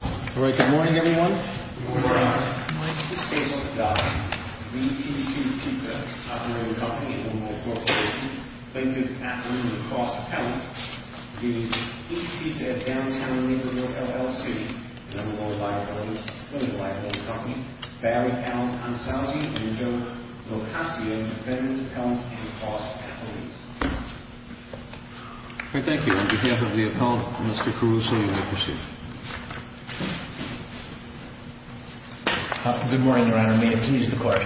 All right, good morning everyone. Good morning. My name is Faisal Qaddafi. VPC Pizza is a top-rated company in the world for its location, plaintiff, appellant, and cross-appellant. We use Eat Pizza at Downtown Naperville, LLC, and other low-life buildings. We're a life-long company. Barry Allen-Konsalzi and Joe Locascio are veterans' appellants and cross-appellants. Thank you. On behalf of the appellant, Mr. Caruso, you may proceed. Good morning, Your Honor. May it please the Court.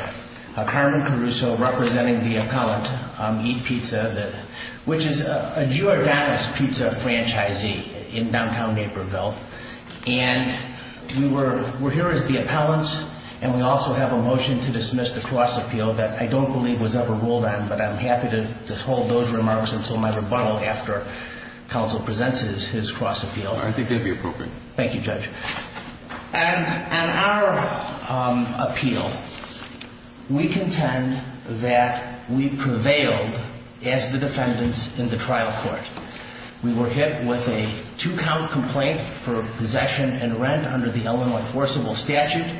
Carmen Caruso representing the appellant, Eat Pizza, which is a Giordano's Pizza franchisee in Downtown Naperville. And we're here as the appellants, and we also have a motion to dismiss the cross-appeal that I don't believe was ever ruled on, but I'm happy to hold those remarks until my rebuttal after Counsel presents his cross-appeal. I think they'd be appropriate. Thank you, Judge. On our appeal, we contend that we prevailed as the defendants in the trial court. We were hit with a two-count complaint for possession and rent under the Illinois Enforceable Statute.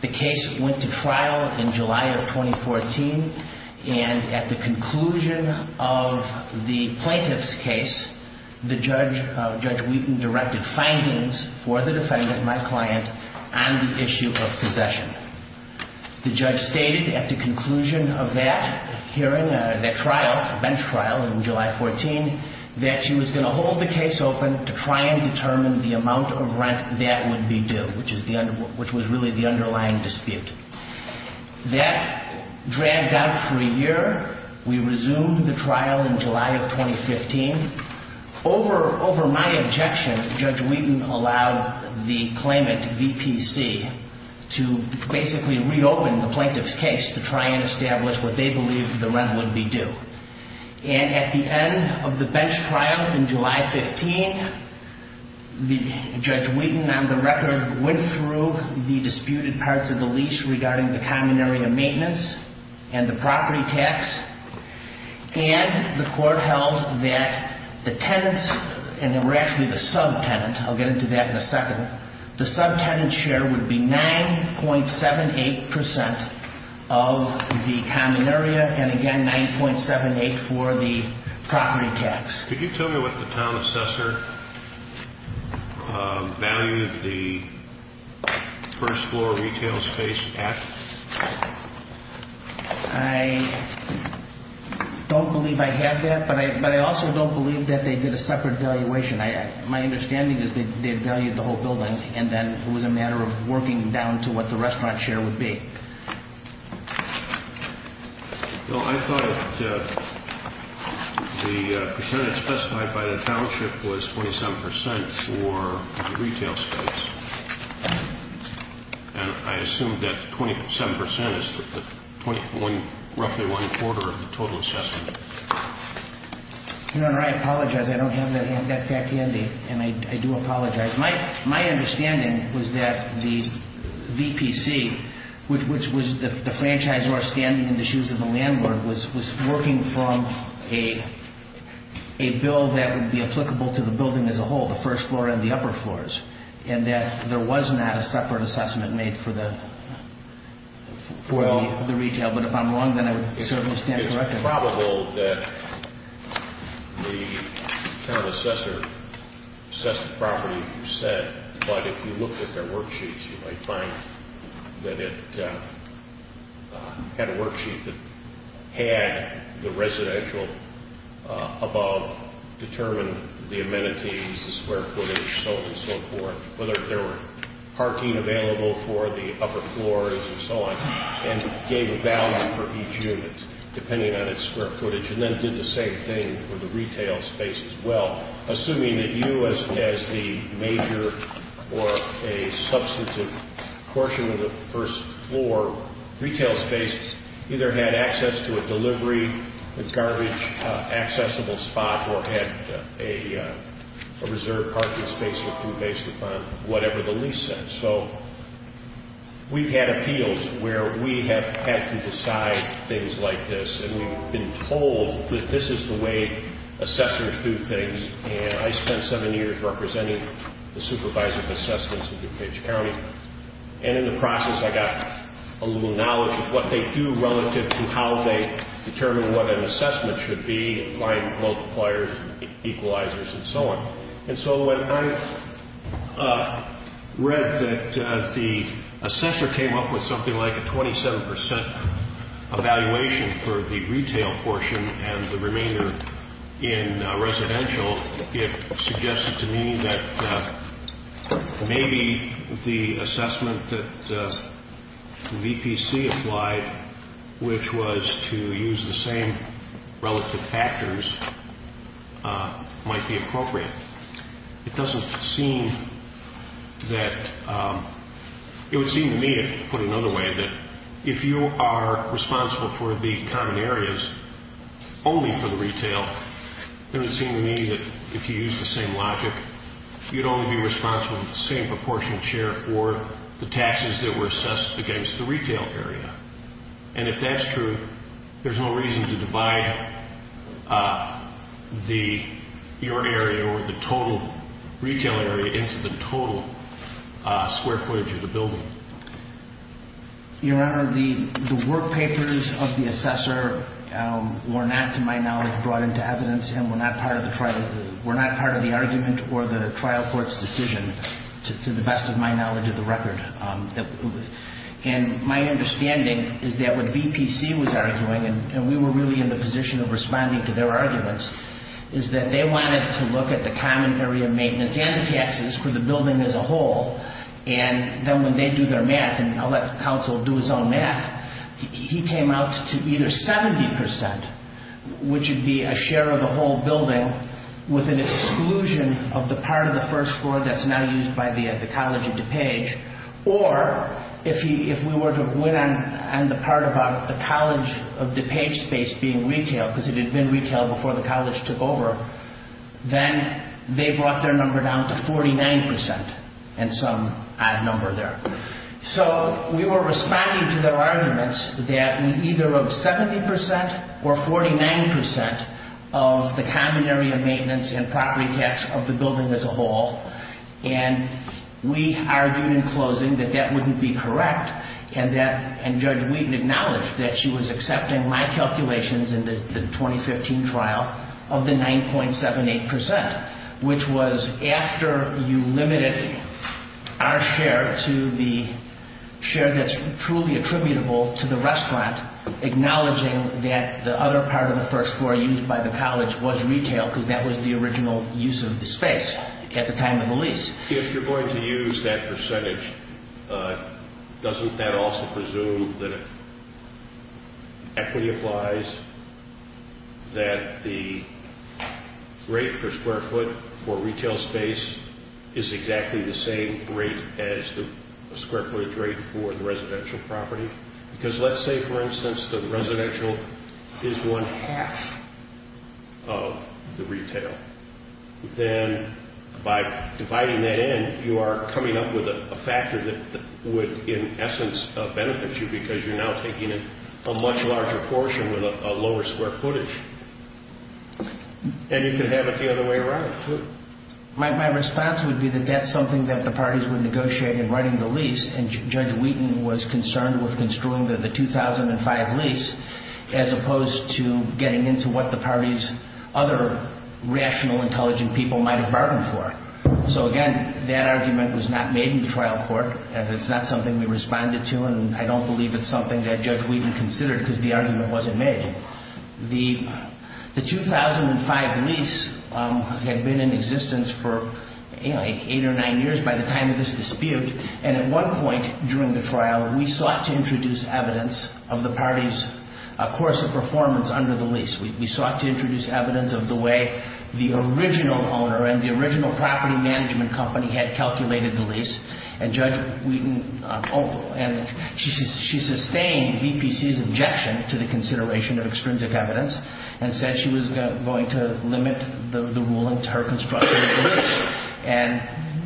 The case went to trial in July of 2014, and at the conclusion of the plaintiff's case, Judge Wheaton directed findings for the defendant, my client, on the issue of possession. The judge stated at the conclusion of that hearing, that trial, bench trial in July of 2014, that she was going to hold the case open to try and determine the amount of rent that would be due, which was really the underlying dispute. That dragged out for a year. We resumed the trial in July of 2015. Over my objection, Judge Wheaton allowed the claimant, VPC, to basically reopen the plaintiff's case to try and establish what they believed the rent would be due. And at the end of the bench trial in July 15, Judge Wheaton, on the record, went through the disputed parts of the lease regarding the common area maintenance and the property tax, and the court held that the tenants, and they were actually the sub-tenant, I'll get into that in a second, the sub-tenant share would be 9.78% of the common area, and again, 9.78 for the property tax. Could you tell me what the town assessor valued the first floor retail space at? I don't believe I had that, but I also don't believe that they did a separate evaluation. My understanding is they valued the whole building, and then it was a matter of working down to what the restaurant share would be. Well, I thought that the percentage specified by the township was 27% for the retail space, and I assumed that 27% is roughly one quarter of the total assessment. Your Honor, I apologize. I don't have that fat candy, and I do apologize. My understanding was that the VPC, which was the franchisor standing in the shoes of the landlord, was working from a bill that would be applicable to the building as a whole, the first floor and the upper floors, and that there was not a separate assessment made for the retail. But if I'm wrong, then I would certainly stand corrected. It's improbable that the town assessor assessed the property you said, but if you looked at their worksheets, you might find that it had a worksheet that had the residential above determine the amenities, the square footage, so on and so forth, whether there were parking available for the upper floors and so on, and gave a value for each unit, depending on its square footage, and then did the same thing for the retail space as well, assuming that you, as the major or a substantive portion of the first floor retail space, either had access to a delivery, a garbage-accessible spot, or had a reserved parking space that grew based upon whatever the lease said. So we've had appeals where we have had to decide things like this, and we've been told that this is the way assessors do things, and I spent seven years representing the supervisor of assessments in DuPage County, and in the process, I got a little knowledge of what they do relative to how they determine what an assessment should be, applying multipliers, equalizers, and so on. And so when I read that the assessor came up with something like a 27% evaluation for the retail portion and the remainder in residential, it suggested to me that maybe the assessment that VPC applied, which was to use the same relative factors, might be appropriate. It doesn't seem that – it would seem to me, to put it another way, that if you are responsible for the common areas only for the retail, it would seem to me that if you use the same logic, you'd only be responsible for the same proportion of share for the taxes that were assessed against the retail area. And if that's true, there's no reason to divide your area or the total retail area into the total square footage of the building. Your Honor, the work papers of the assessor were not, to my knowledge, brought into evidence and were not part of the argument or the trial court's decision, to the best of my knowledge of the record. And my understanding is that what VPC was arguing, and we were really in the position of responding to their arguments, is that they wanted to look at the common area maintenance and the taxes for the building as a whole. And then when they do their math, and I'll let counsel do his own math, he came out to either 70%, which would be a share of the whole building, with an exclusion of the part of the first floor that's now used by the College of DuPage, or if we were to win on the part about the College of DuPage space being retail, because it had been retail before the college took over, then they brought their number down to 49%, and some odd number there. So we were responding to their arguments that we either wrote 70% or 49% of the common area maintenance and property tax of the building as a whole. And we argued in closing that that wouldn't be correct, and Judge Wheaton acknowledged that she was accepting my calculations in the 2015 trial of the 9.78%, which was after you limited our share to the share that's truly attributable to the restaurant, acknowledging that the other part of the first floor used by the college was retail, because that was the original use of the space at the time of the lease. If you're going to use that percentage, doesn't that also presume that if equity applies, that the rate per square foot for retail space is exactly the same rate as the square footage rate for the residential property? Because let's say, for instance, the residential is one half of the retail. Then by dividing that in, you are coming up with a factor that would, in essence, benefit you because you're now taking a much larger portion with a lower square footage. And you could have it the other way around, too. My response would be that that's something that the parties would negotiate in writing the lease, and Judge Wheaton was concerned with construing the 2005 lease as opposed to getting into what the parties' other rational, intelligent people might have bargained for. So again, that argument was not made in the trial court, and it's not something we responded to, and I don't believe it's something that Judge Wheaton considered because the argument wasn't made. The 2005 lease had been in existence for eight or nine years by the time of this dispute, and at one point during the trial, we sought to introduce evidence of the parties' course of performance under the lease. We sought to introduce evidence of the way the original owner and the original property management company had calculated the lease, and Judge Wheaton, she sustained VPC's objection to the consideration of extrinsic evidence and said she was going to limit the ruling to her construction of the lease.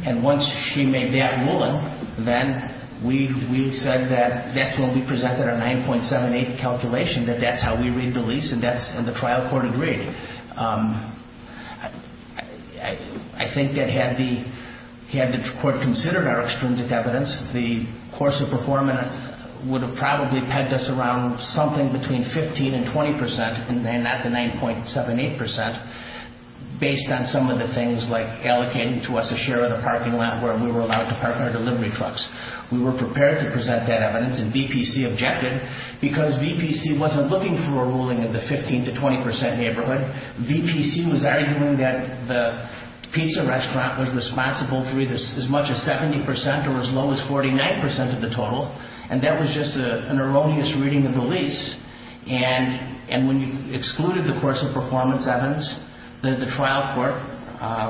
And once she made that ruling, then we said that that's when we presented our 9.78 calculation, that that's how we read the lease, and the trial court agreed. I think that had the court considered our extrinsic evidence, the course of performance would have probably pegged us around something between 15 and 20 percent, and not the 9.78 percent, based on some of the things like allocating to us a share of the parking lot where we were allowed to park our delivery trucks. We were prepared to present that evidence, and VPC objected because VPC wasn't looking for a ruling in the 15 to 20 percent neighborhood. VPC was arguing that the pizza restaurant was responsible for either as much as 70 percent or as low as 49 percent of the total, and that was just an erroneous reading of the lease. And when you excluded the course of performance evidence, the trial court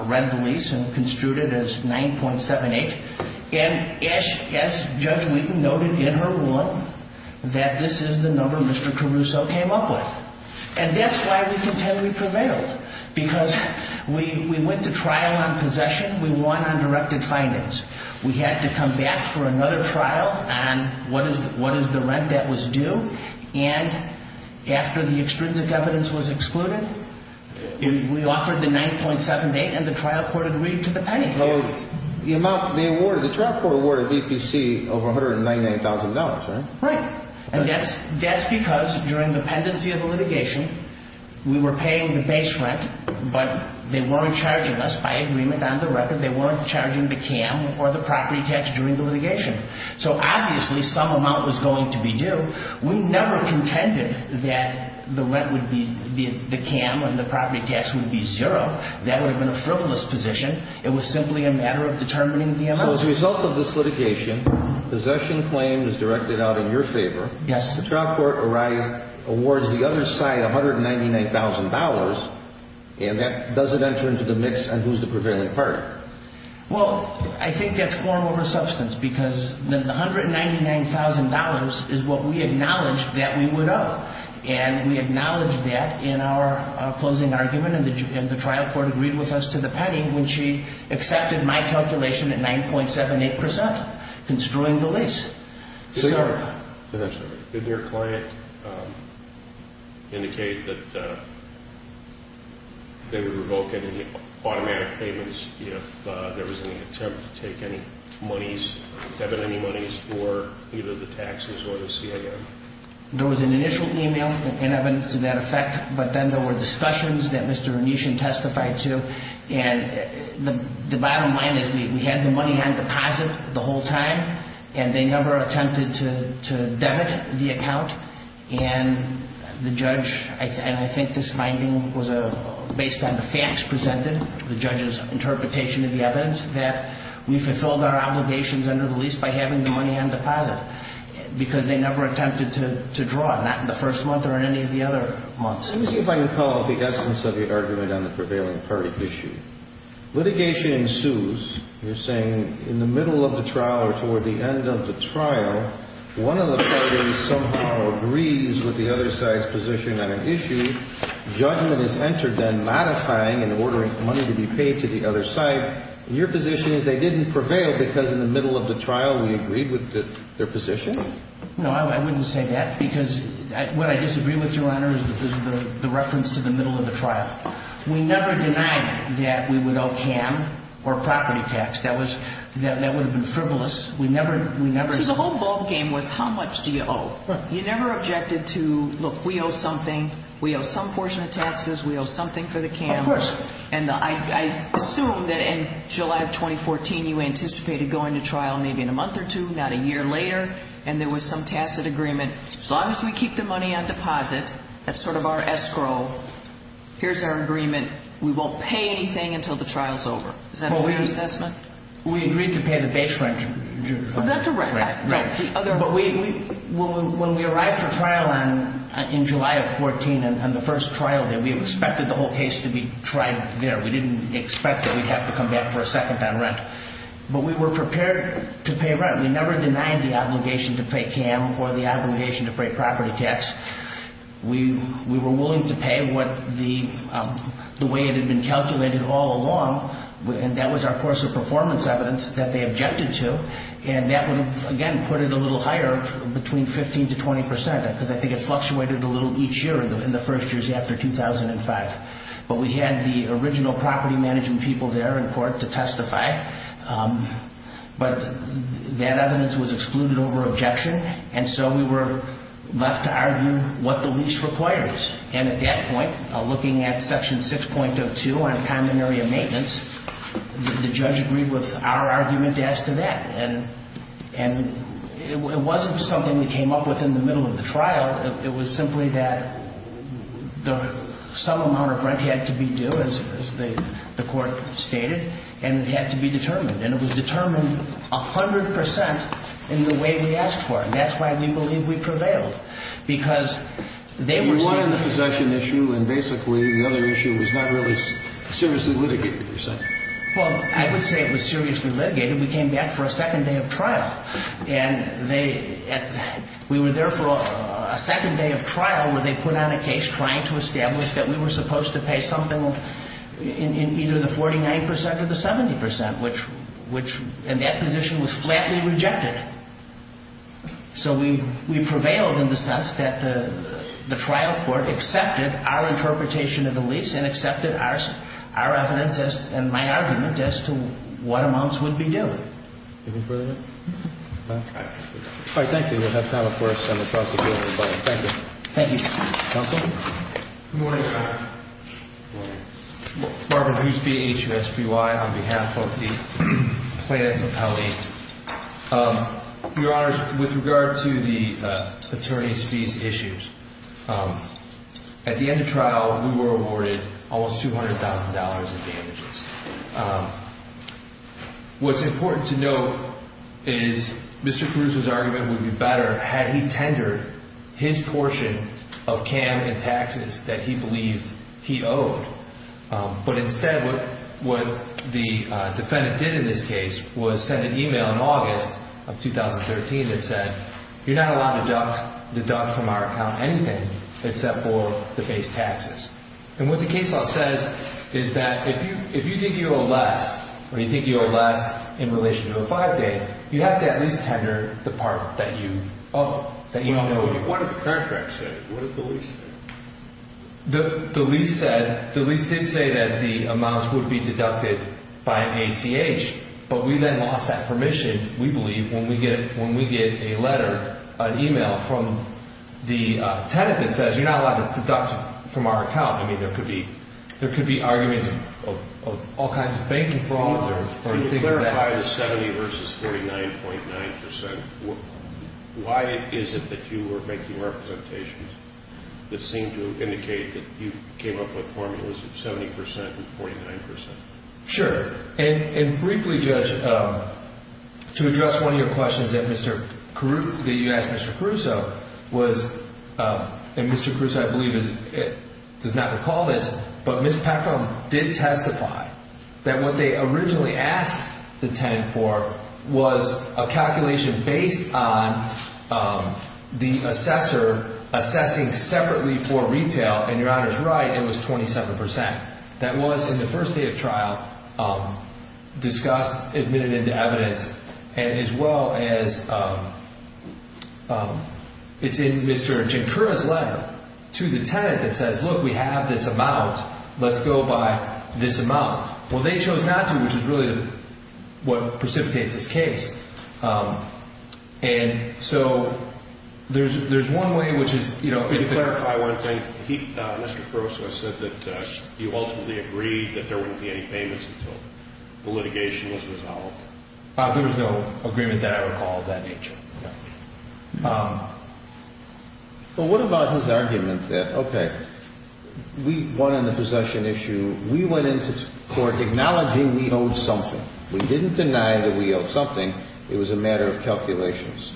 read the lease and construed it as 9.78. And as Judge Wheaton noted in her ruling, that this is the number Mr. Caruso came up with. And that's why we contend we prevailed, because we went to trial on possession, we won on directed findings. We had to come back for another trial on what is the rent that was due, and after the extrinsic evidence was excluded, we offered the 9.78, and the trial court agreed to the penny. The trial court awarded VPC over $199,000, right? Right. And that's because during the pendency of the litigation, we were paying the base rent, but they weren't charging us by agreement on the record. They weren't charging the CAM or the property tax during the litigation. So obviously some amount was going to be due. We never contended that the rent would be the CAM and the property tax would be zero. That would have been a frivolous position. It was simply a matter of determining the amount. As a result of this litigation, possession claims directed out in your favor. Yes. The trial court awards the other side $199,000, and that doesn't enter into the mix on who's the prevailing party. Well, I think that's form over substance, because the $199,000 is what we acknowledged that we would owe, and we acknowledged that in our closing argument, and the trial court agreed with us to the penny when she accepted my calculation at 9.78%, construing the lease. Didn't your client indicate that they would revoke any automatic payments if there was any attempt to take any monies, debit any monies for either the taxes or the CAM? There was an initial email and evidence to that effect, but then there were discussions that Mr. Renishon testified to, and the bottom line is we had the money on deposit the whole time, and they never attempted to debit the account, and the judge, and I think this finding was based on the facts presented, the judge's interpretation of the evidence, that we fulfilled our obligations under the lease by having the money on deposit, because they never attempted to draw it, not in the first month or in any of the other months. Let me see if I can call the essence of the argument on the prevailing party issue. Litigation ensues. You're saying in the middle of the trial or toward the end of the trial, one of the parties somehow agrees with the other side's position on an issue. Judgment is entered then, modifying and ordering money to be paid to the other side. Your position is they didn't prevail because in the middle of the trial we agreed with their position? No, I wouldn't say that, because what I disagree with, Your Honor, is the reference to the middle of the trial. We never denied that we would owe CAM or property tax. That would have been frivolous. So the whole ballgame was how much do you owe? You never objected to, look, we owe something, we owe some portion of taxes, we owe something for the CAM. Of course. And I assume that in July of 2014 you anticipated going to trial, maybe in a month or two, not a year later, and there was some tacit agreement, as long as we keep the money on deposit, that's sort of our escrow, here's our agreement, we won't pay anything until the trial's over. Is that a fair assessment? We agreed to pay the base rent. Not the rent. Right. But when we arrived for trial in July of 2014, on the first trial day, we expected the whole case to be tried there. We didn't expect that we'd have to come back for a second on rent. But we were prepared to pay rent. We never denied the obligation to pay CAM or the obligation to pay property tax. We were willing to pay what the way it had been calculated all along, and that was our course of performance evidence that they objected to, and that would, again, put it a little higher, between 15% to 20%, because I think it fluctuated a little each year in the first years after 2005. But we had the original property management people there in court to testify, but that evidence was excluded over objection, and so we were left to argue what the lease requires. And at that point, looking at Section 6.02 on common area maintenance, the judge agreed with our argument as to that. And it wasn't something we came up with in the middle of the trial. It was simply that some amount of rent had to be due, as the court stated, and it had to be determined. And it was determined 100% in the way we asked for it, and that's why we believe we prevailed, because they were seeing the possession issue and basically the other issue was not really seriously litigated, you said. Well, I would say it was seriously litigated. We came back for a second day of trial, and we were there for a second day of trial where they put on a case trying to establish that we were supposed to pay something in either the 49% or the 70%, which – and that position was flatly rejected. So we prevailed in the sense that the trial court accepted our interpretation of the lease and accepted our evidence and my argument as to what amounts would be due. Anything further? No. All right. Thank you. We'll have time, of course, on the prosecution. Thank you. Thank you. Counsel? Good morning, Your Honor. Good morning. Marvin Husby, H-U-S-B-Y, on behalf of the plaintiff's appellate. Your Honors, with regard to the attorney's fees issues, at the end of trial we were awarded almost $200,000 in damages. What's important to note is Mr. Caruso's argument would be better had he tendered his portion of CAM and taxes that he believed he owed. But instead what the defendant did in this case was send an email in August of 2013 that said you're not allowed to deduct from our account anything except for the base taxes. And what the case law says is that if you think you owe less or you think you owe less in relation to a five-day, you have to at least tender the part that you owe, that you don't owe anymore. What did the contract say? What did the lease say? The lease did say that the amounts would be deducted by ACH, but we then lost that permission, we believe, when we get a letter, an email, from the tenant that says you're not allowed to deduct from our account. I mean, there could be arguments of all kinds of banking frauds or things like that. Why the 70 versus 49.9 percent? Why is it that you were making representations that seem to indicate that you came up with formulas of 70 percent and 49 percent? Sure. And briefly, Judge, to address one of your questions that you asked Mr. Caruso, and Mr. Caruso, I believe, does not recall this, but Ms. Peckham did testify that what they originally asked the tenant for was a calculation based on the assessor assessing separately for retail, and your Honor's right, it was 27 percent. That was in the first day of trial discussed, admitted into evidence, and as well as it's in Mr. Jinkura's letter to the tenant that says, look, we have this amount, let's go by this amount. Well, they chose not to, which is really what precipitates this case. And so there's one way, which is, you know, Could you clarify one thing? Mr. Caruso said that you ultimately agreed that there wouldn't be any payments until the litigation was resolved. There was no agreement that I recall of that nature. Well, what about his argument that, okay, we won on the possession issue, we went into court acknowledging we owed something. We didn't deny that we owed something. It was a matter of calculations.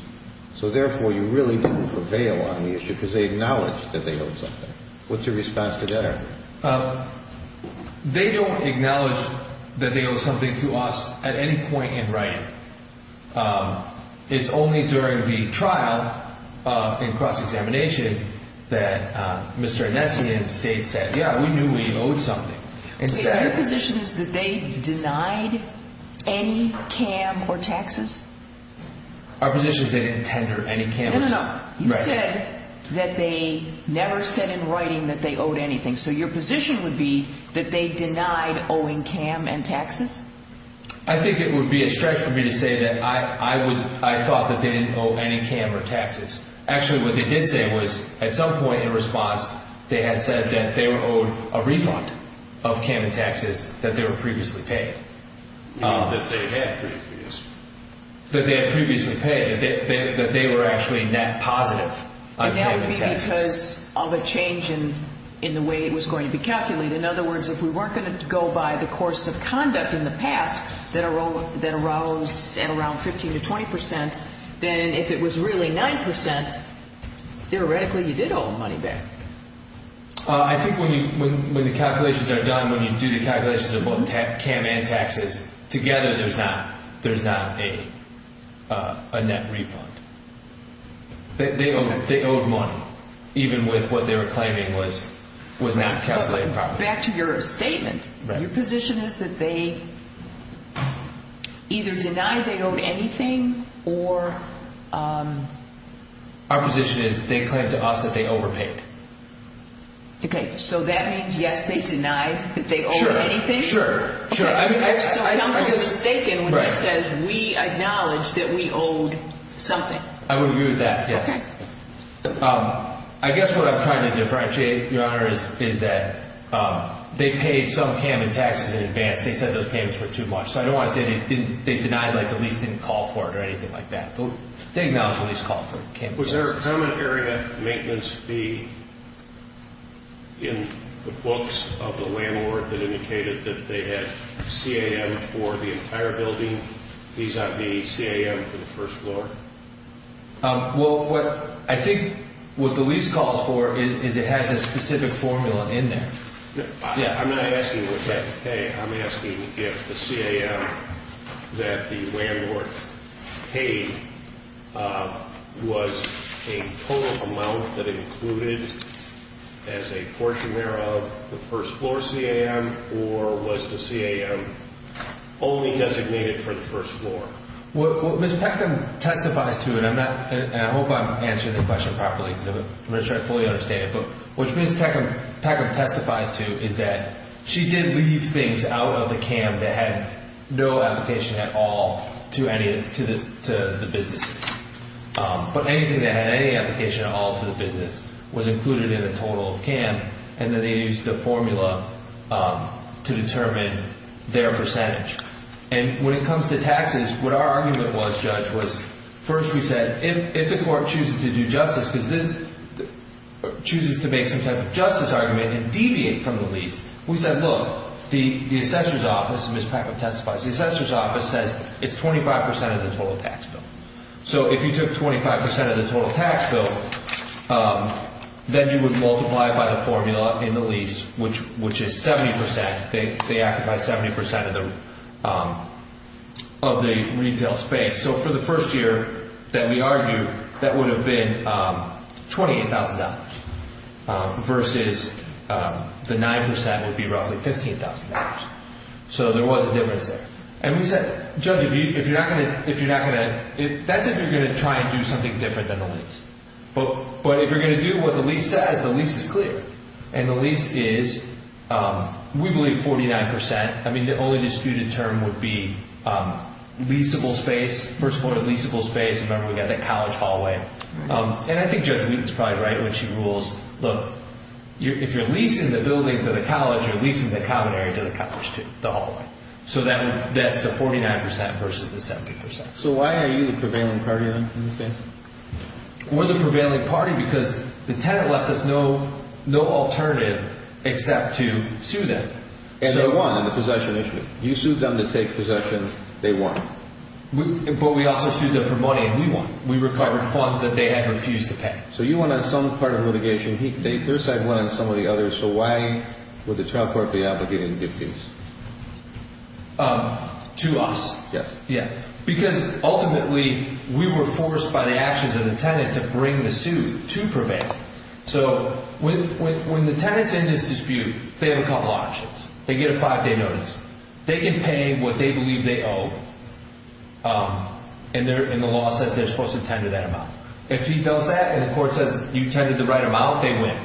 So, therefore, you really didn't prevail on the issue because they acknowledged that they owed something. What's your response to that argument? They don't acknowledge that they owe something to us at any point in writing. It's only during the trial and cross-examination that Mr. Enesian states that, yeah, we knew we owed something. Your position is that they denied any CAM or taxes? Our position is they didn't tender any CAM. No, no, no. You said that they never said in writing that they owed anything. So your position would be that they denied owing CAM and taxes? I think it would be a stretch for me to say that I thought that they didn't owe any CAM or taxes. Actually, what they did say was at some point in response, they had said that they were owed a refund of CAM and taxes that they were previously paid. You mean that they had previously? That they had previously paid, that they were actually net positive on CAM and taxes. But that would be because of a change in the way it was going to be calculated. In other words, if we weren't going to go by the course of conduct in the past that arose at around 15 to 20 percent, then if it was really 9 percent, theoretically you did owe them money back. I think when the calculations are done, when you do the calculations of both CAM and taxes, together there's not a net refund. They owed money even with what they were claiming was not calculated properly. Back to your statement, your position is that they either denied they owed anything or... Our position is that they claimed to us that they overpaid. Okay, so that means, yes, they denied that they owed anything? Sure, sure. So counsel is mistaken when he says we acknowledge that we owed something. I would agree with that, yes. I guess what I'm trying to differentiate, Your Honor, is that they paid some CAM and taxes in advance. They said those payments were too much. So I don't want to say they denied, like the lease didn't call for it or anything like that. They acknowledge the lease called for CAM and taxes. Was there a common area maintenance fee in the books of the landlord that indicated that they had CAM for the entire building? These ought to be CAM for the first floor. Well, I think what the lease calls for is it has a specific formula in there. I'm not asking what they had to pay. I'm asking if the CAM that the landlord paid was a total amount that included as a portion there of the first floor CAM or was the CAM only designated for the first floor? What Ms. Peckham testifies to, and I hope I'm answering the question properly because I'm going to try to fully understand it, but what Ms. Peckham testifies to is that she did leave things out of the CAM that had no application at all to the businesses. But anything that had any application at all to the business was included in the total of CAM, and then they used the formula to determine their percentage. When it comes to taxes, what our argument was, Judge, was first we said if the court chooses to do justice because this chooses to make some type of justice argument and deviate from the lease, we said, look, the assessor's office, and Ms. Peckham testifies, the assessor's office says it's 25 percent of the total tax bill. So if you took 25 percent of the total tax bill, then you would multiply it by the formula in the lease, which is 70 percent. They act by 70 percent of the retail space. So for the first year that we argued, that would have been $28,000 versus the 9 percent would be roughly $15,000. So there was a difference there. And we said, Judge, if you're not going to – that's if you're going to try and do something different than the lease. But if you're going to do what the lease says, the lease is clear. And the lease is, we believe, 49 percent. I mean, the only disputed term would be leasable space. First of all, leasable space. Remember, we've got the college hallway. And I think Judge Wheaton's probably right when she rules. Look, if you're leasing the building to the college, you're leasing the common area to the college too, the hallway. So that's the 49 percent versus the 70 percent. So why are you the prevailing party in this case? We're the prevailing party because the tenant left us no alternative except to sue them. And they won on the possession issue. You sued them to take possession. They won. But we also sued them for money, and we won. We recovered funds that they had refused to pay. So you won on some part of litigation. Their side won on some of the others. So why would the trial court be obligated to give fees? To us. Yes. Because ultimately we were forced by the actions of the tenant to bring the suit to prevail. So when the tenant's in this dispute, they have a couple options. They get a five-day notice. They can pay what they believe they owe, and the law says they're supposed to tend to that amount. If he does that and the court says you tended the right amount, they win.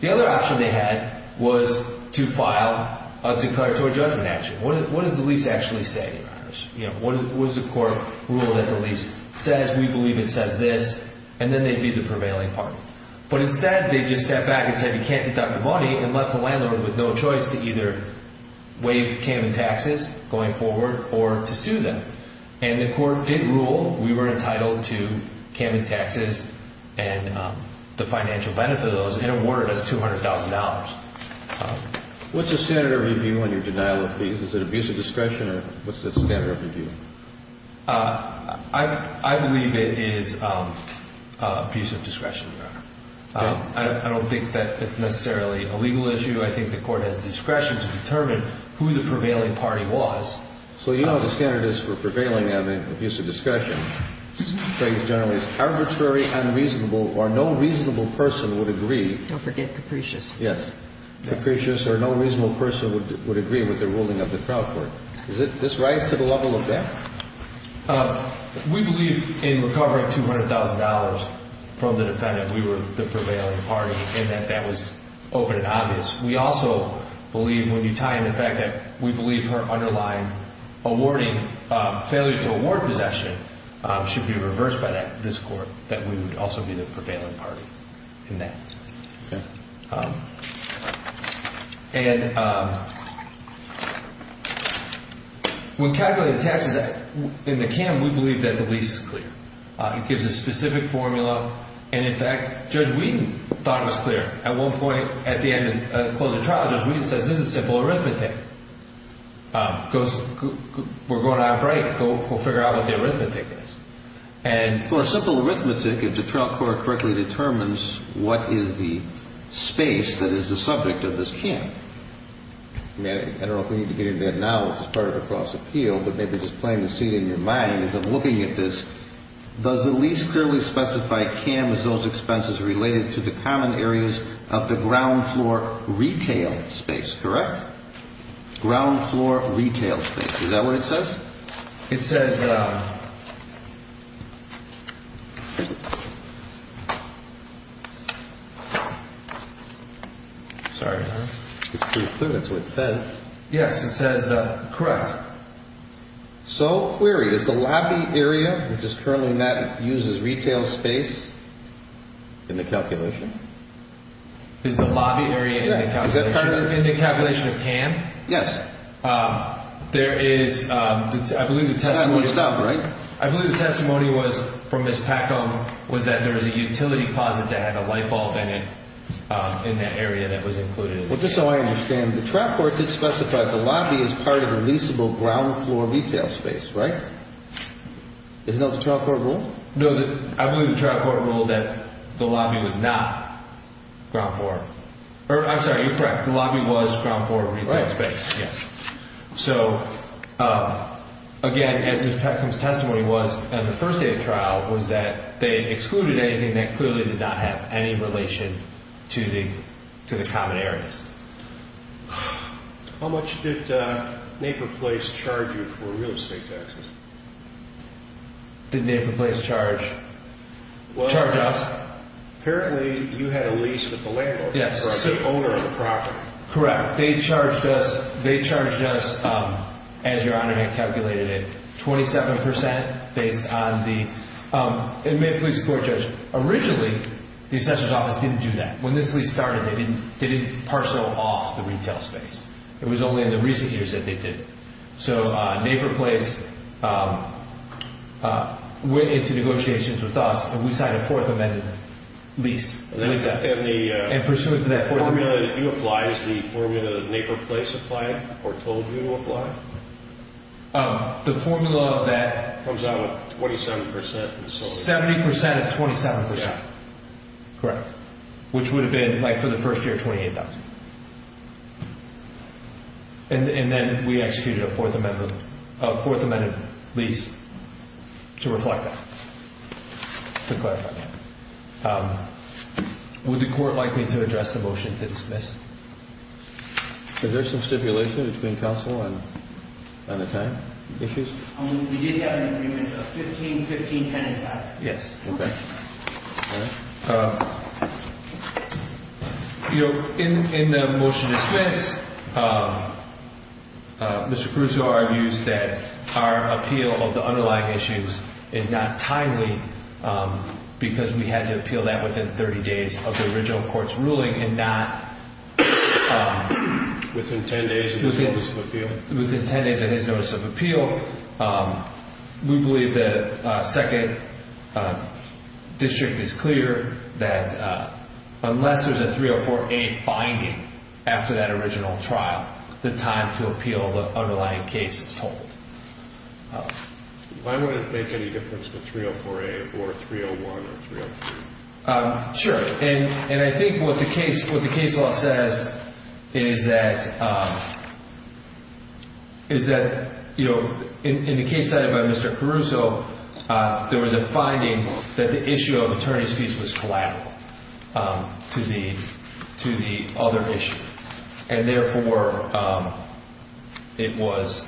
The other option they had was to file a declaratory judgment action. What does the lease actually say? What does the court rule that the lease says? We believe it says this. And then they'd be the prevailing party. But instead they just sat back and said you can't deduct the money and left the landlord with no choice to either waive Camden taxes going forward or to sue them. And the court did rule we were entitled to Camden taxes and the financial benefit of those and awarded us $200,000. What's the standard of review on your denial of fees? Is it abuse of discretion or what's the standard of review? I believe it is abuse of discretion, Your Honor. I don't think that it's necessarily a legal issue. I think the court has discretion to determine who the prevailing party was. So you know what the standard is for prevailing on the abuse of discretion. The phrase generally is arbitrary, unreasonable, or no reasonable person would agree. Don't forget Capricious. Yes. Capricious or no reasonable person would agree with the ruling of the trial court. Does this rise to the level of that? We believe in recovering $200,000 from the defendant we were the prevailing party in that that was open and obvious. We also believe when you tie in the fact that we believe her underlying awarding, failure to award possession should be reversed by this court, that we would also be the prevailing party in that. Okay. And when calculating taxes in the CAM, we believe that the lease is clear. It gives a specific formula. And, in fact, Judge Wheaton thought it was clear. At one point at the end of the closing trial, Judge Wheaton says, this is simple arithmetic. We're going out of break. Go figure out what the arithmetic is. And for simple arithmetic, if the trial court correctly determines what is the space that is the subject of this CAM, I don't know if we need to get into that now, which is part of a cross appeal, but maybe just playing the scene in your mind as I'm looking at this, does the lease clearly specify CAM as those expenses related to the common areas of the ground floor retail space, correct? Ground floor retail space. Is that what it says? Yes. It says. Sorry. It's true, it's what it says. Yes, it says correct. So query, is the lobby area, which is currently met, uses retail space in the calculation? Is the lobby area in the calculation of CAM? Yes. There is, I believe the testimony. It's not messed up, right? I believe the testimony was from Ms. Packo was that there was a utility closet that had a light bulb in it, in that area that was included. Well, just so I understand, the trial court did specify the lobby is part of a leaseable ground floor retail space, right? Isn't that what the trial court ruled? No, I believe the trial court ruled that the lobby was not ground floor. I'm sorry, you're correct. The lobby was ground floor retail space. Yes, yes. So, again, as Ms. Packo's testimony was, the first day of trial was that they excluded anything that clearly did not have any relation to the common areas. How much did Naper Place charge you for real estate taxes? Did Naper Place charge us? Apparently, you had a lease with the landlord. Yes. The owner of the property. Correct. They charged us, as Your Honor had calculated it, 27% based on the inmate police court judge. Originally, the assessor's office didn't do that. When this lease started, they didn't parcel off the retail space. It was only in the recent years that they did. So, Naper Place went into negotiations with us, and we signed a fourth amended lease. And pursuant to that formula... The formula that you apply is the formula that Naper Place applied or told you to apply? The formula of that... Comes out at 27%. 70% of 27%. Yes. Correct. Which would have been, for the first year, $28,000. And then we executed a fourth amended lease to reflect that, to clarify that. Would the court like me to address the motion to dismiss? Is there some stipulation between counsel on the time issues? We did have an agreement of 15, 10, and 5. Yes. In the motion to dismiss, Mr. Caruso argues that our appeal of the underlying issues is not timely because we had to appeal that within 30 days of the original court's ruling and not... Within 10 days of his notice of appeal? Within 10 days of his notice of appeal. We believe that second district is clear that unless there's a 304A finding after that original trial, the time to appeal the underlying case is told. Why would it make any difference with 304A or 301 or 303? Sure. And I think what the case law says is that in the case cited by Mr. Caruso, there was a finding that the issue of attorney's fees was collateral to the other issue. And therefore, it was...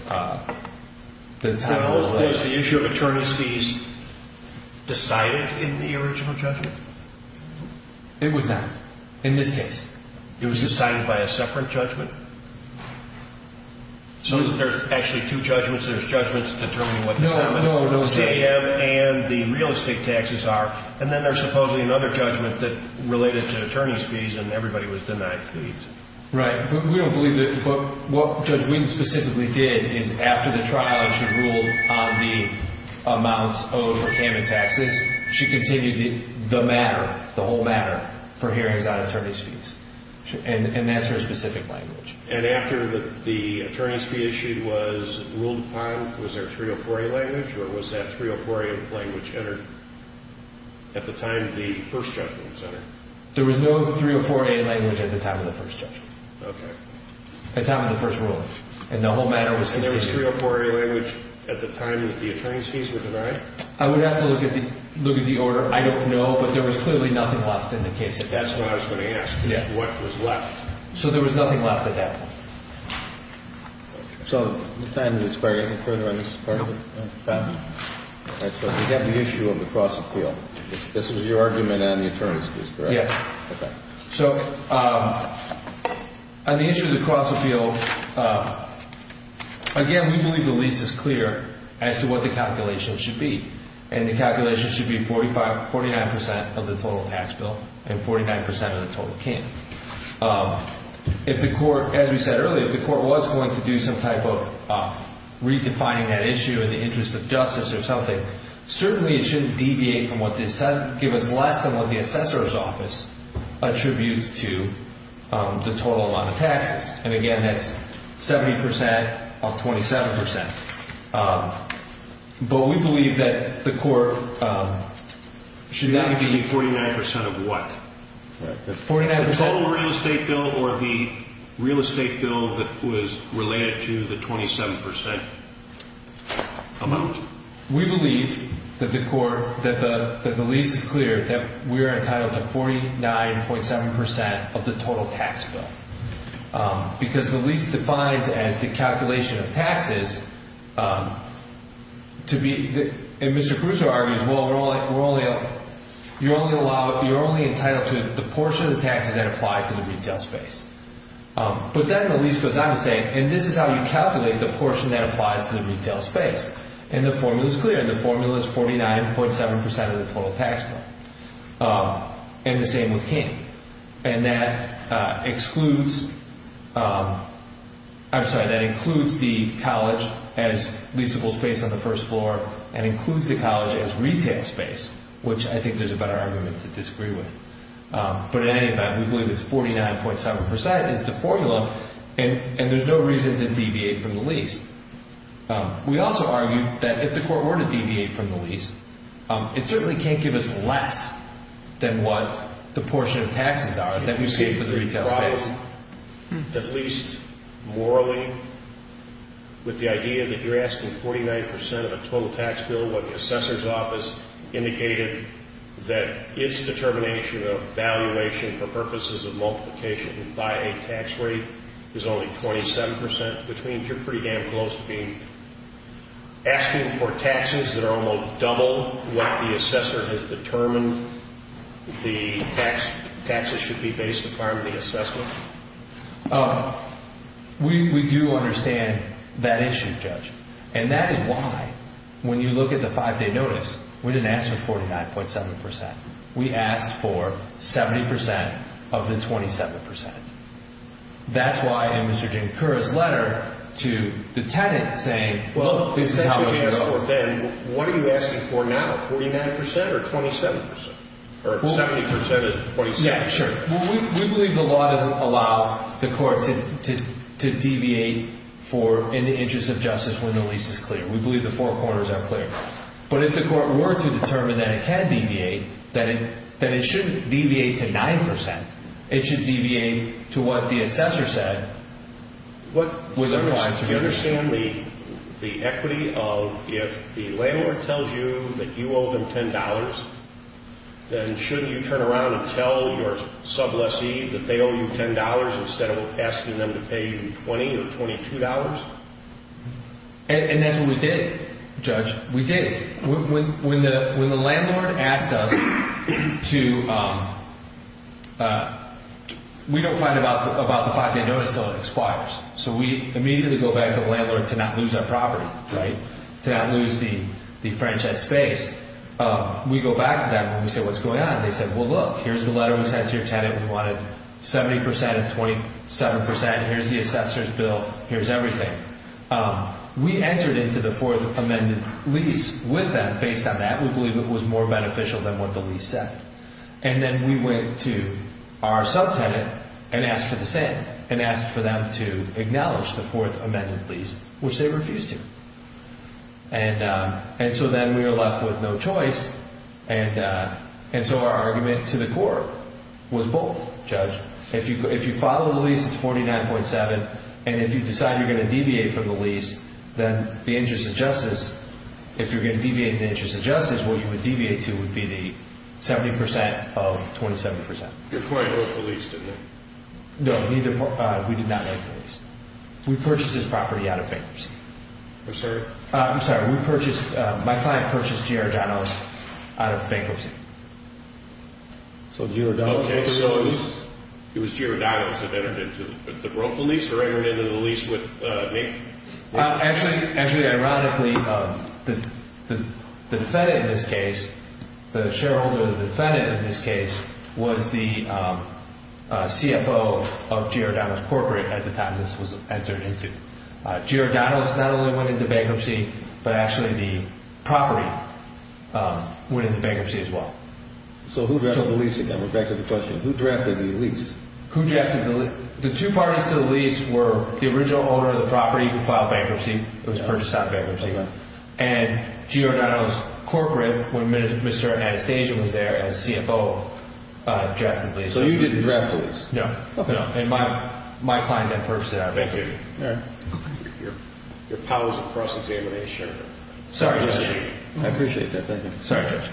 Was the issue of attorney's fees decided in the original judgment? It was not, in this case. It was decided by a separate judgment? So that there's actually two judgments, there's judgments determining what the... No, no, no judgment. ...CAM and the real estate taxes are, and then there's supposedly another judgment that related to attorney's fees and everybody was denied fees. Right. But we don't believe that... But what Judge Witten specifically did is after the trial, she ruled on the amounts owed for CAM and taxes, she continued the matter, the whole matter, for hearings on attorney's fees. And that's her specific language. And after the attorney's fee issue was ruled upon, was there 304A language or was that 304A language entered at the time the first judgment was entered? There was no 304A language at the time of the first judgment. Okay. At the time of the first ruling. And the whole matter was continued. And there was 304A language at the time that the attorney's fees were denied? I would have to look at the order. I don't know, but there was clearly nothing left in the case at that time. That's what I was going to ask. Yeah. What was left? So there was nothing left at that point. Okay. So at the time of the experiment, the criminal evidence department? No. Okay. So we have the issue of the cross-appeal. This was your argument on the attorney's fees, correct? Yes. Okay. So on the issue of the cross-appeal, again, we believe the lease is clear as to what the calculation should be. And the calculation should be 49% of the total tax bill and 49% of the total CAM. If the court, as we said earlier, if the court was going to do some type of redefining that issue in the interest of justice or something, certainly it shouldn't deviate from what the assessor's office attributes to the total amount of taxes. And, again, that's 70% of 27%. But we believe that the court should not be 49% of what? The total real estate bill or the real estate bill that was related to the 27% Amount? We believe that the court, that the lease is clear that we are entitled to 49.7% of the total tax bill. Because the lease defines as the calculation of taxes to be, and Mr. Crusoe argues, well, you're only entitled to the portion of the taxes that apply to the retail space. But then the lease goes on to say, and this is how you calculate the portion that applies to the retail space. And the formula is clear, and the formula is 49.7% of the total tax bill. And the same with CAM. And that excludes, I'm sorry, that includes the college as leaseable space on the first floor and includes the college as retail space, which I think there's a better argument to disagree with. But, in any event, we believe it's 49.7% is the formula, and there's no reason to deviate from the lease. We also argue that if the court were to deviate from the lease, it certainly can't give us less than what the portion of taxes are that we pay for the retail space. At least morally, with the idea that you're asking 49% of the total tax bill when the assessor's office indicated that its determination of valuation for purposes of multiplication by a tax rate is only 27%, which means you're pretty damn close to being asking for taxes that are almost double what the assessor has determined the taxes should be based upon the assessment. We do understand that issue, Judge. And that is why, when you look at the five-day notice, we didn't ask for 49.7%. We asked for 70% of the 27%. That's why, in Mr. Jankura's letter to the tenant, saying, well, this is how much you got. What are you asking for now? 49% or 27%? Or 70% of 27%? Yeah, sure. We believe the law doesn't allow the court to deviate for, in the interest of justice, when the lease is clear. We believe the four corners are clear. But if the court were to determine that it can deviate, then it shouldn't deviate to 9%. It should deviate to what the assessor said was a requirement. Do you understand the equity of if the landlord tells you that you owe them $10, then shouldn't you turn around and tell your sub-lessee that they owe you $10 instead of asking them to pay you $20 or $22? And that's what we did, Judge. We did. When the landlord asked us to – we don't find out about the 5-day notice until it expires. So we immediately go back to the landlord to not lose our property, right? To not lose the franchise space. We go back to them and we say, what's going on? They said, well, look, here's the letter we sent to your tenant. We wanted 70% of 27%. Here's the assessor's bill. Here's everything. We entered into the Fourth Amendment lease with them. Based on that, we believe it was more beneficial than what the lease said. And then we went to our sub-tenant and asked for the same, and asked for them to acknowledge the Fourth Amendment lease, which they refused to. And so then we were left with no choice. And so our argument to the court was both, Judge. If you file a lease, it's 49.7. And if you decide you're going to deviate from the lease, then the interest of justice, if you're going to deviate the interest of justice, what you would deviate to would be the 70% of 27%. Your client broke the lease, didn't they? No, neither – we did not break the lease. We purchased this property out of bankruptcy. I'm sorry? I'm sorry. We purchased – my client purchased Giardano's out of bankruptcy. So Giardano's broke the lease? Actually, ironically, the defendant in this case, the shareholder of the defendant in this case, was the CFO of Giardano's corporate at the time this was entered into. Giardano's not only went into bankruptcy, but actually the property went into bankruptcy as well. So who drafted the lease again? We're back to the question. Who drafted the lease? Who drafted the lease? The two parties to the lease were the original owner of the property who filed bankruptcy. It was purchased out of bankruptcy. And Giardano's corporate, when Mr. Anastasia was there as CFO, drafted the lease. So you didn't draft the lease? No. And my client then purchased it out of bankruptcy. Thank you. Your powers of cross-examination. Sorry, Judge. I appreciate that. Thank you. Sorry, Judge.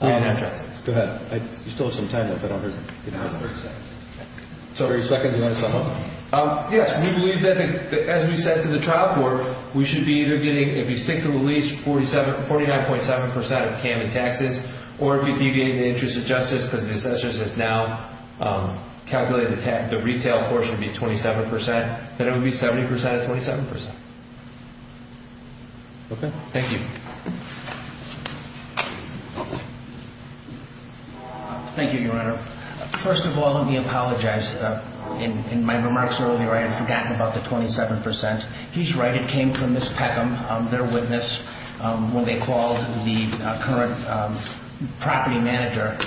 We did not draft the lease. Go ahead. You still have some time left, but I'll hear from you. So 30 seconds, do you want to sum up? Yes. We believe that, as we said to the trial court, we should be either getting, if you stick to the lease, 49.7% of CAM and taxes, or if you're deviating the interest of justice because the assessor has now calculated the retail portion to be 27%, then it would be 70% of 27%. Okay. Thank you. Thank you, Your Honor. First of all, let me apologize. In my remarks earlier, I had forgotten about the 27%. He's right. It came from Ms. Peckham, their witness, when they called the current property manager.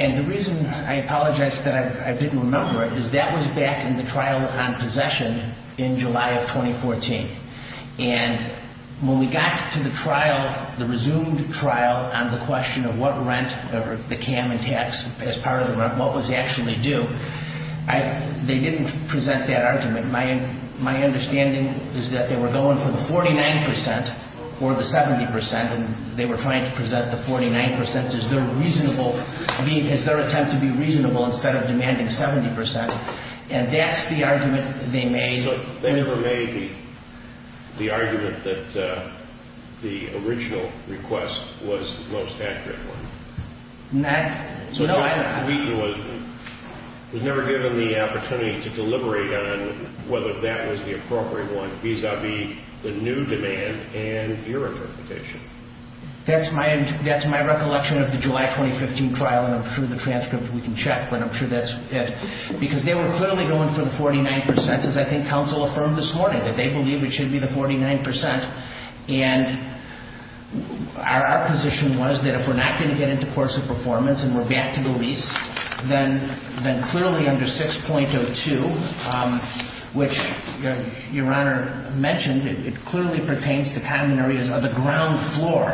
And the reason I apologize that I didn't remember it is that was back in the trial on possession in July of 2014. And when we got to the trial, the resumed trial on the question of what rent or the CAM and tax as part of the rent, what was actually due, they didn't present that argument. My understanding is that they were going for the 49% or the 70%, and they were trying to present the 49% as their attempt to be reasonable instead of demanding 70%. And that's the argument they made. So they never made the argument that the original request was the most accurate one? No, I don't believe that. So Justice Wheaton was never given the opportunity to deliberate on whether that was the appropriate one vis-à-vis the new demand and your interpretation? That's my recollection of the July 2015 trial, and I'm sure the transcript we can check, but I'm sure that's it. Because they were clearly going for the 49%, as I think counsel affirmed this morning, that they believe it should be the 49%. And our position was that if we're not going to get into course of performance and we're back to the lease, then clearly under 6.02, which your Honor mentioned, it clearly pertains to common areas of the ground floor,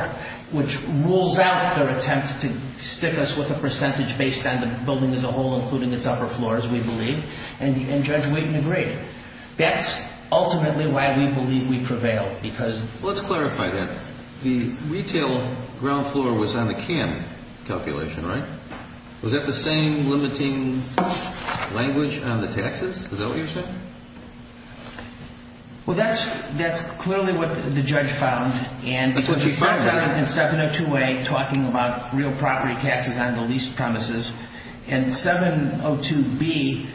which rules out their attempt to stick us with a percentage based on the building as a whole, including its upper floors, we believe. And Judge Wheaton agreed. That's ultimately why we believe we prevailed. Let's clarify that. The retail ground floor was on the CAN calculation, right? Was that the same limiting language on the taxes? Is that what you're saying? Well, that's clearly what the judge found. That's what she found. Because she found something in 702A talking about real property taxes on the lease premises. And 702B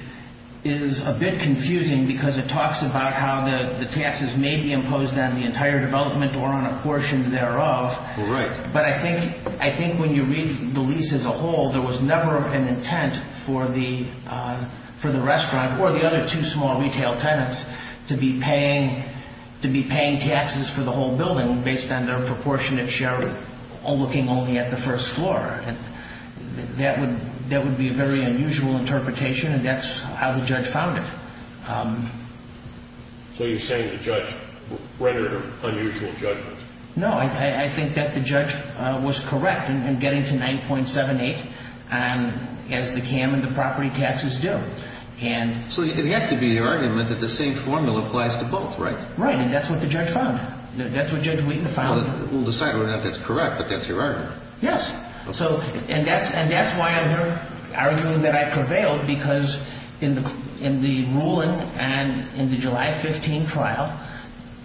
is a bit confusing because it talks about how the taxes may be imposed on the entire development or on a portion thereof. Right. But I think when you read the lease as a whole, there was never an intent for the restaurant or the other two small retail tenants to be paying taxes for the whole building based on their proportionate share, looking only at the first floor. That would be a very unusual interpretation, and that's how the judge found it. So you're saying the judge rendered an unusual judgment? No, I think that the judge was correct in getting to 9.78 as the CAN and the property taxes do. So it has to be your argument that the same formula applies to both, right? Right, and that's what the judge found. That's what Judge Wheaton found. We'll decide whether or not that's correct, but that's your argument. Yes, and that's why I'm here arguing that I prevailed because in the ruling and in the July 15 trial,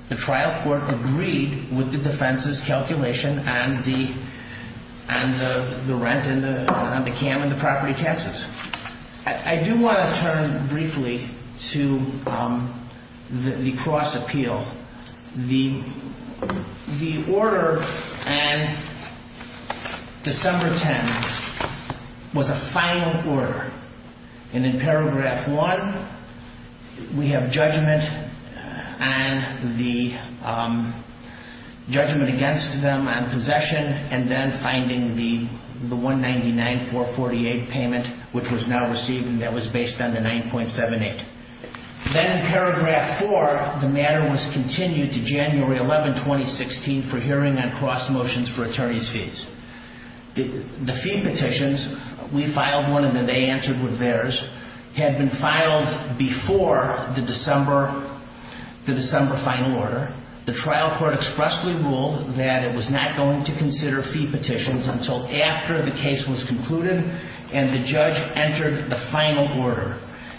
the trial court agreed with the defense's calculation on the rent on the CAN and the property taxes. I do want to turn briefly to the cross appeal. The order in December 10 was a final order. And in paragraph 1, we have judgment and the judgment against them on possession, and then finding the 199-448 payment, which was now received, and that was based on the 9.78. Then in paragraph 4, the matter was continued to January 11, 2016, for hearing on cross motions for attorney's fees. The fee petitions, we filed one and then they answered with theirs, had been filed before the December final order. The trial court expressly ruled that it was not going to consider fee petitions until after the case was concluded, and the judge entered the final order.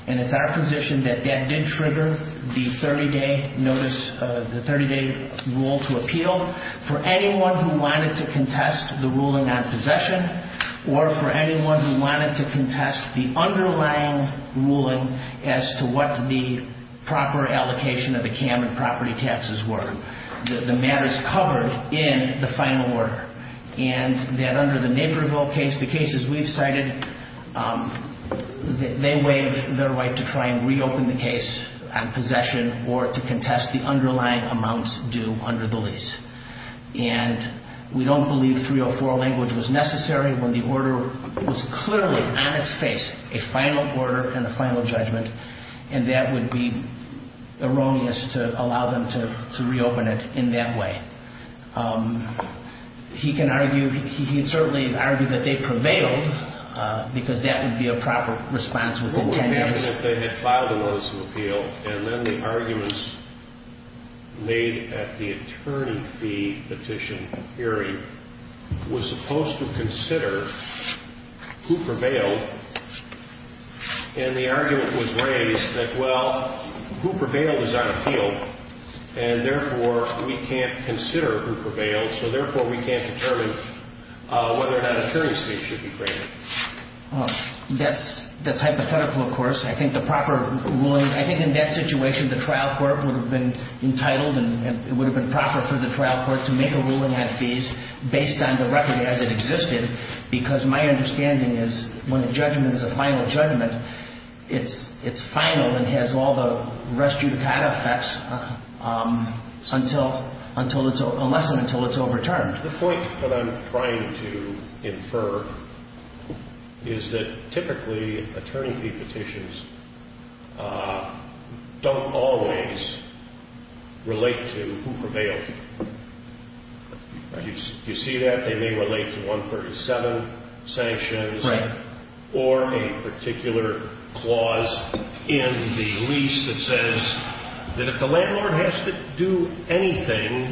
And it's our position that that did trigger the 30-day notice, the 30-day rule to appeal. For anyone who wanted to contest the ruling on possession, or for anyone who wanted to contest the underlying ruling as to what the proper allocation of the CAN and property taxes were, the matter is covered in the final order. And that under the Naperville case, the cases we've cited, they waive their right to try and reopen the case on possession or to contest the underlying amounts due under the lease. And we don't believe 304 language was necessary when the order was clearly on its face, a final order and a final judgment, and that would be erroneous to allow them to reopen it in that way. He can argue, he'd certainly argue that they prevailed, because that would be a proper response within 10 days. And if they had filed a notice of appeal, and then the arguments made at the attorney fee petition hearing was supposed to consider who prevailed, and the argument was raised that, well, who prevailed is on appeal, and therefore we can't consider who prevailed, so therefore we can't determine whether or not an attorney's fee should be granted. That's hypothetical, of course. I think the proper ruling, I think in that situation the trial court would have been entitled and it would have been proper for the trial court to make a ruling on fees based on the record as it existed, because my understanding is when a judgment is a final judgment, it's final and has all the res judicata effects unless and until it's overturned. The point that I'm trying to infer is that typically attorney fee petitions don't always relate to who prevailed. Do you see that? They may relate to 137 sanctions or a particular clause in the lease that says that if the landlord has to do anything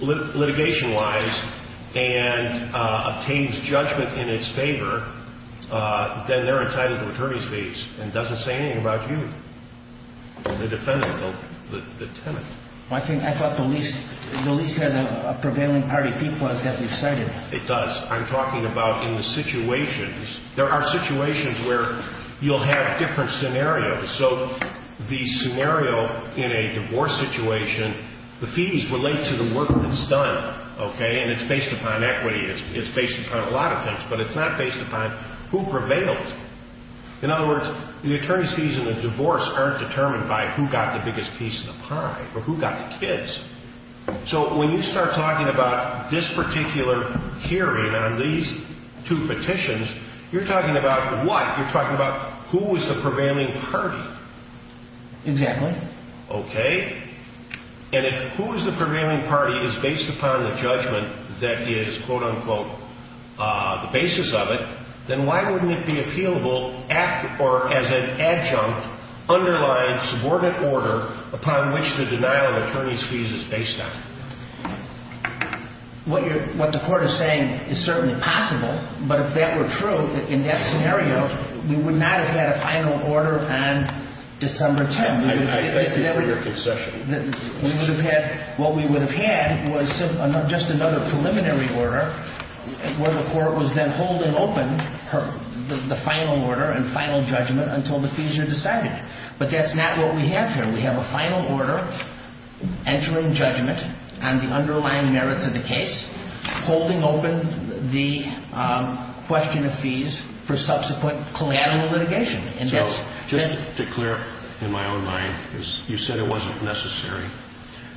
litigation-wise and obtains judgment in its favor, then they're entitled to attorney's fees and doesn't say anything about you, the defendant, the tenant. I thought the lease has a prevailing party fee clause that we've cited. It does. I'm talking about in the situations. There are situations where you'll have different scenarios, so the scenario in a divorce situation, the fees relate to the work that's done, and it's based upon equity. It's based upon a lot of things, but it's not based upon who prevailed. In other words, the attorney's fees in a divorce aren't determined by who got the biggest piece of the pie or who got the kids. So when you start talking about this particular hearing on these two petitions, you're talking about what? You're talking about who is the prevailing party. Exactly. Okay. And if who is the prevailing party is based upon the judgment that is, quote, unquote, the basis of it, then why wouldn't it be appealable as an adjunct underlying subordinate order upon which the denial of attorney's fees is based on? What the court is saying is certainly possible, but if that were true, in that scenario, you would not have had a final order on December 10th. I thank you for your concession. We would have had what we would have had was just another preliminary order where the court was then holding open the final order and final judgment until the fees are decided. But that's not what we have here. We have a final order entering judgment on the underlying merits of the case, holding open the question of fees for subsequent collateral litigation. So just to clear up in my own mind, you said it wasn't necessary,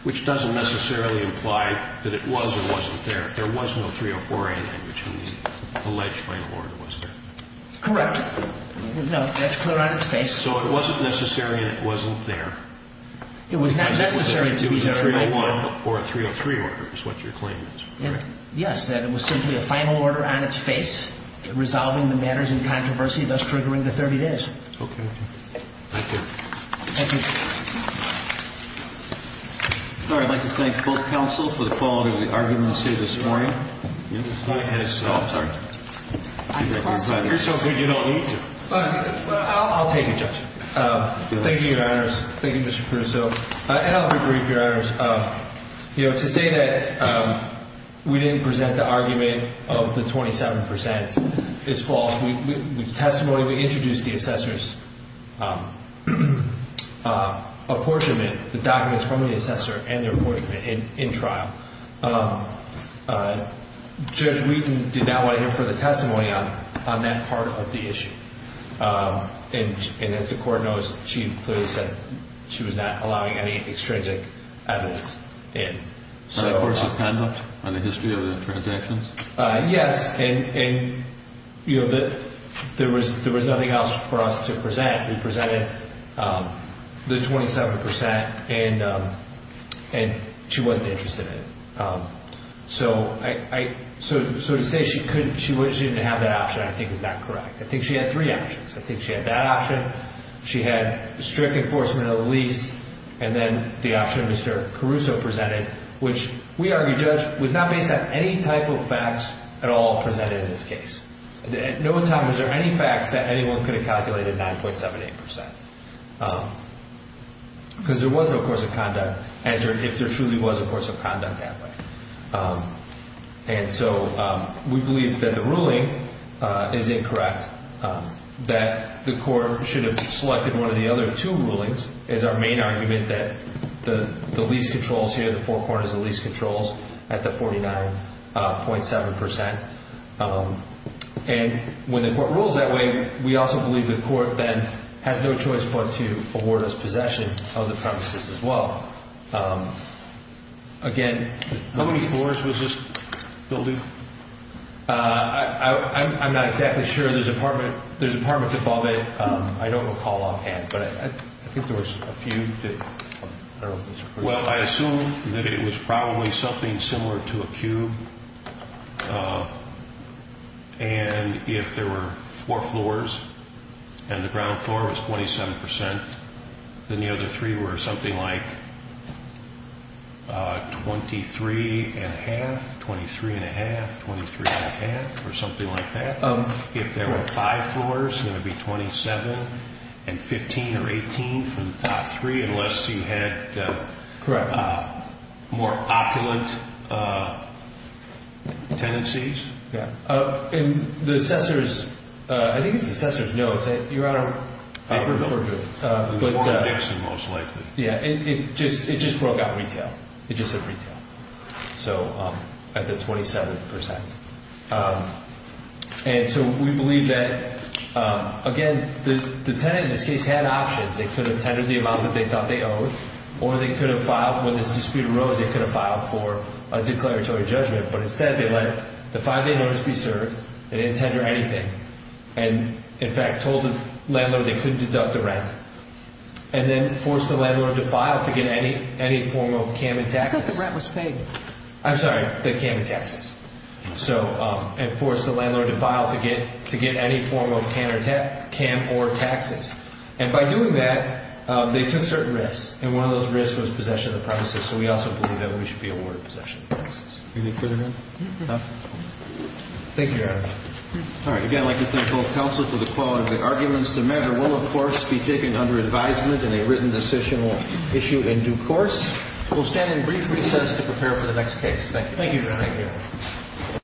which doesn't necessarily imply that it was or wasn't there. There was no 304A language in the alleged final order, was there? Correct. No, that's clear on its face. So it wasn't necessary and it wasn't there. It was not necessary to be there. It was a 301 or a 303 order is what your claim is, correct? Yes, that it was simply a final order on its face, resolving the matters in controversy, thus triggering the 30 days. Okay. Thank you. Thank you. Sir, I'd like to thank both counsels for the quality of the arguments here this morning. You're so good you don't need to. I'll take it, Judge. Thank you, Your Honors. Thank you, Mr. Cruz. And I'll be brief, Your Honors. You know, to say that we didn't present the argument of the 27% is false. With testimony, we introduced the assessor's apportionment, the documents from the assessor and their apportionment in trial. Judge Wheaton did not want to hear further testimony on that part of the issue. And as the court knows, she clearly said she was not allowing any extrinsic evidence in. Are the courts offended by the history of the transactions? Yes. And, you know, there was nothing else for us to present. We presented the 27% and she wasn't interested in it. So to say she didn't have that option I think is not correct. I think she had three options. I think she had that option, she had strict enforcement of the lease, and then the option Mr. Caruso presented, which we argue, Judge, was not based on any type of facts at all presented in this case. At no time was there any facts that anyone could have calculated 9.78%. Because there was no course of conduct, if there truly was a course of conduct that way. And so we believe that the ruling is incorrect, that the court should have selected one of the other two rulings as our main argument that the lease controls here, the four corners of the lease controls at the 49.7%. And when the court rules that way, we also believe the court then has no choice but to award us possession of the premises as well. Again, how many floors was this building? I'm not exactly sure. There's apartments above it. I don't recall offhand, but I think there was a few. Well, I assume that it was probably something similar to a cube. And if there were four floors and the ground floor was 27%, then the other three were something like 23 1⁄2, 23 1⁄2, 23 1⁄2, or something like that. If there were five floors, then it would be 27 and 15 or 18 from the top three, unless you had more opulent tenancies. Yeah. And the assessor's, I think it's the assessor's notes that you're on a record for doing it. It was Warren Dixon most likely. Yeah. It just broke out retail. It just hit retail. So at the 27%. And so we believe that, again, the tenant in this case had options. They could have tendered the amount that they thought they owed or they could have filed. When this dispute arose, they could have filed for a declaratory judgment. But instead, they let the five-day notice be served. They didn't tender anything and, in fact, told the landlord they couldn't deduct the rent and then forced the landlord to file to get any form of cam and taxes. I thought the rent was paid. I'm sorry. The cam and taxes. So and forced the landlord to file to get any form of cam or taxes. And by doing that, they took certain risks. And one of those risks was possession of the premises. So we also believe that we should be awarded possession of the premises. Anything further to add? No. Thank you, Your Honor. All right. Again, I'd like to thank both counsel for the quality of the arguments. The matter will, of course, be taken under advisement in a written decisional issue in due course. We'll stand in brief recess to prepare for the next case. Thank you. Thank you, Your Honor. Thank you.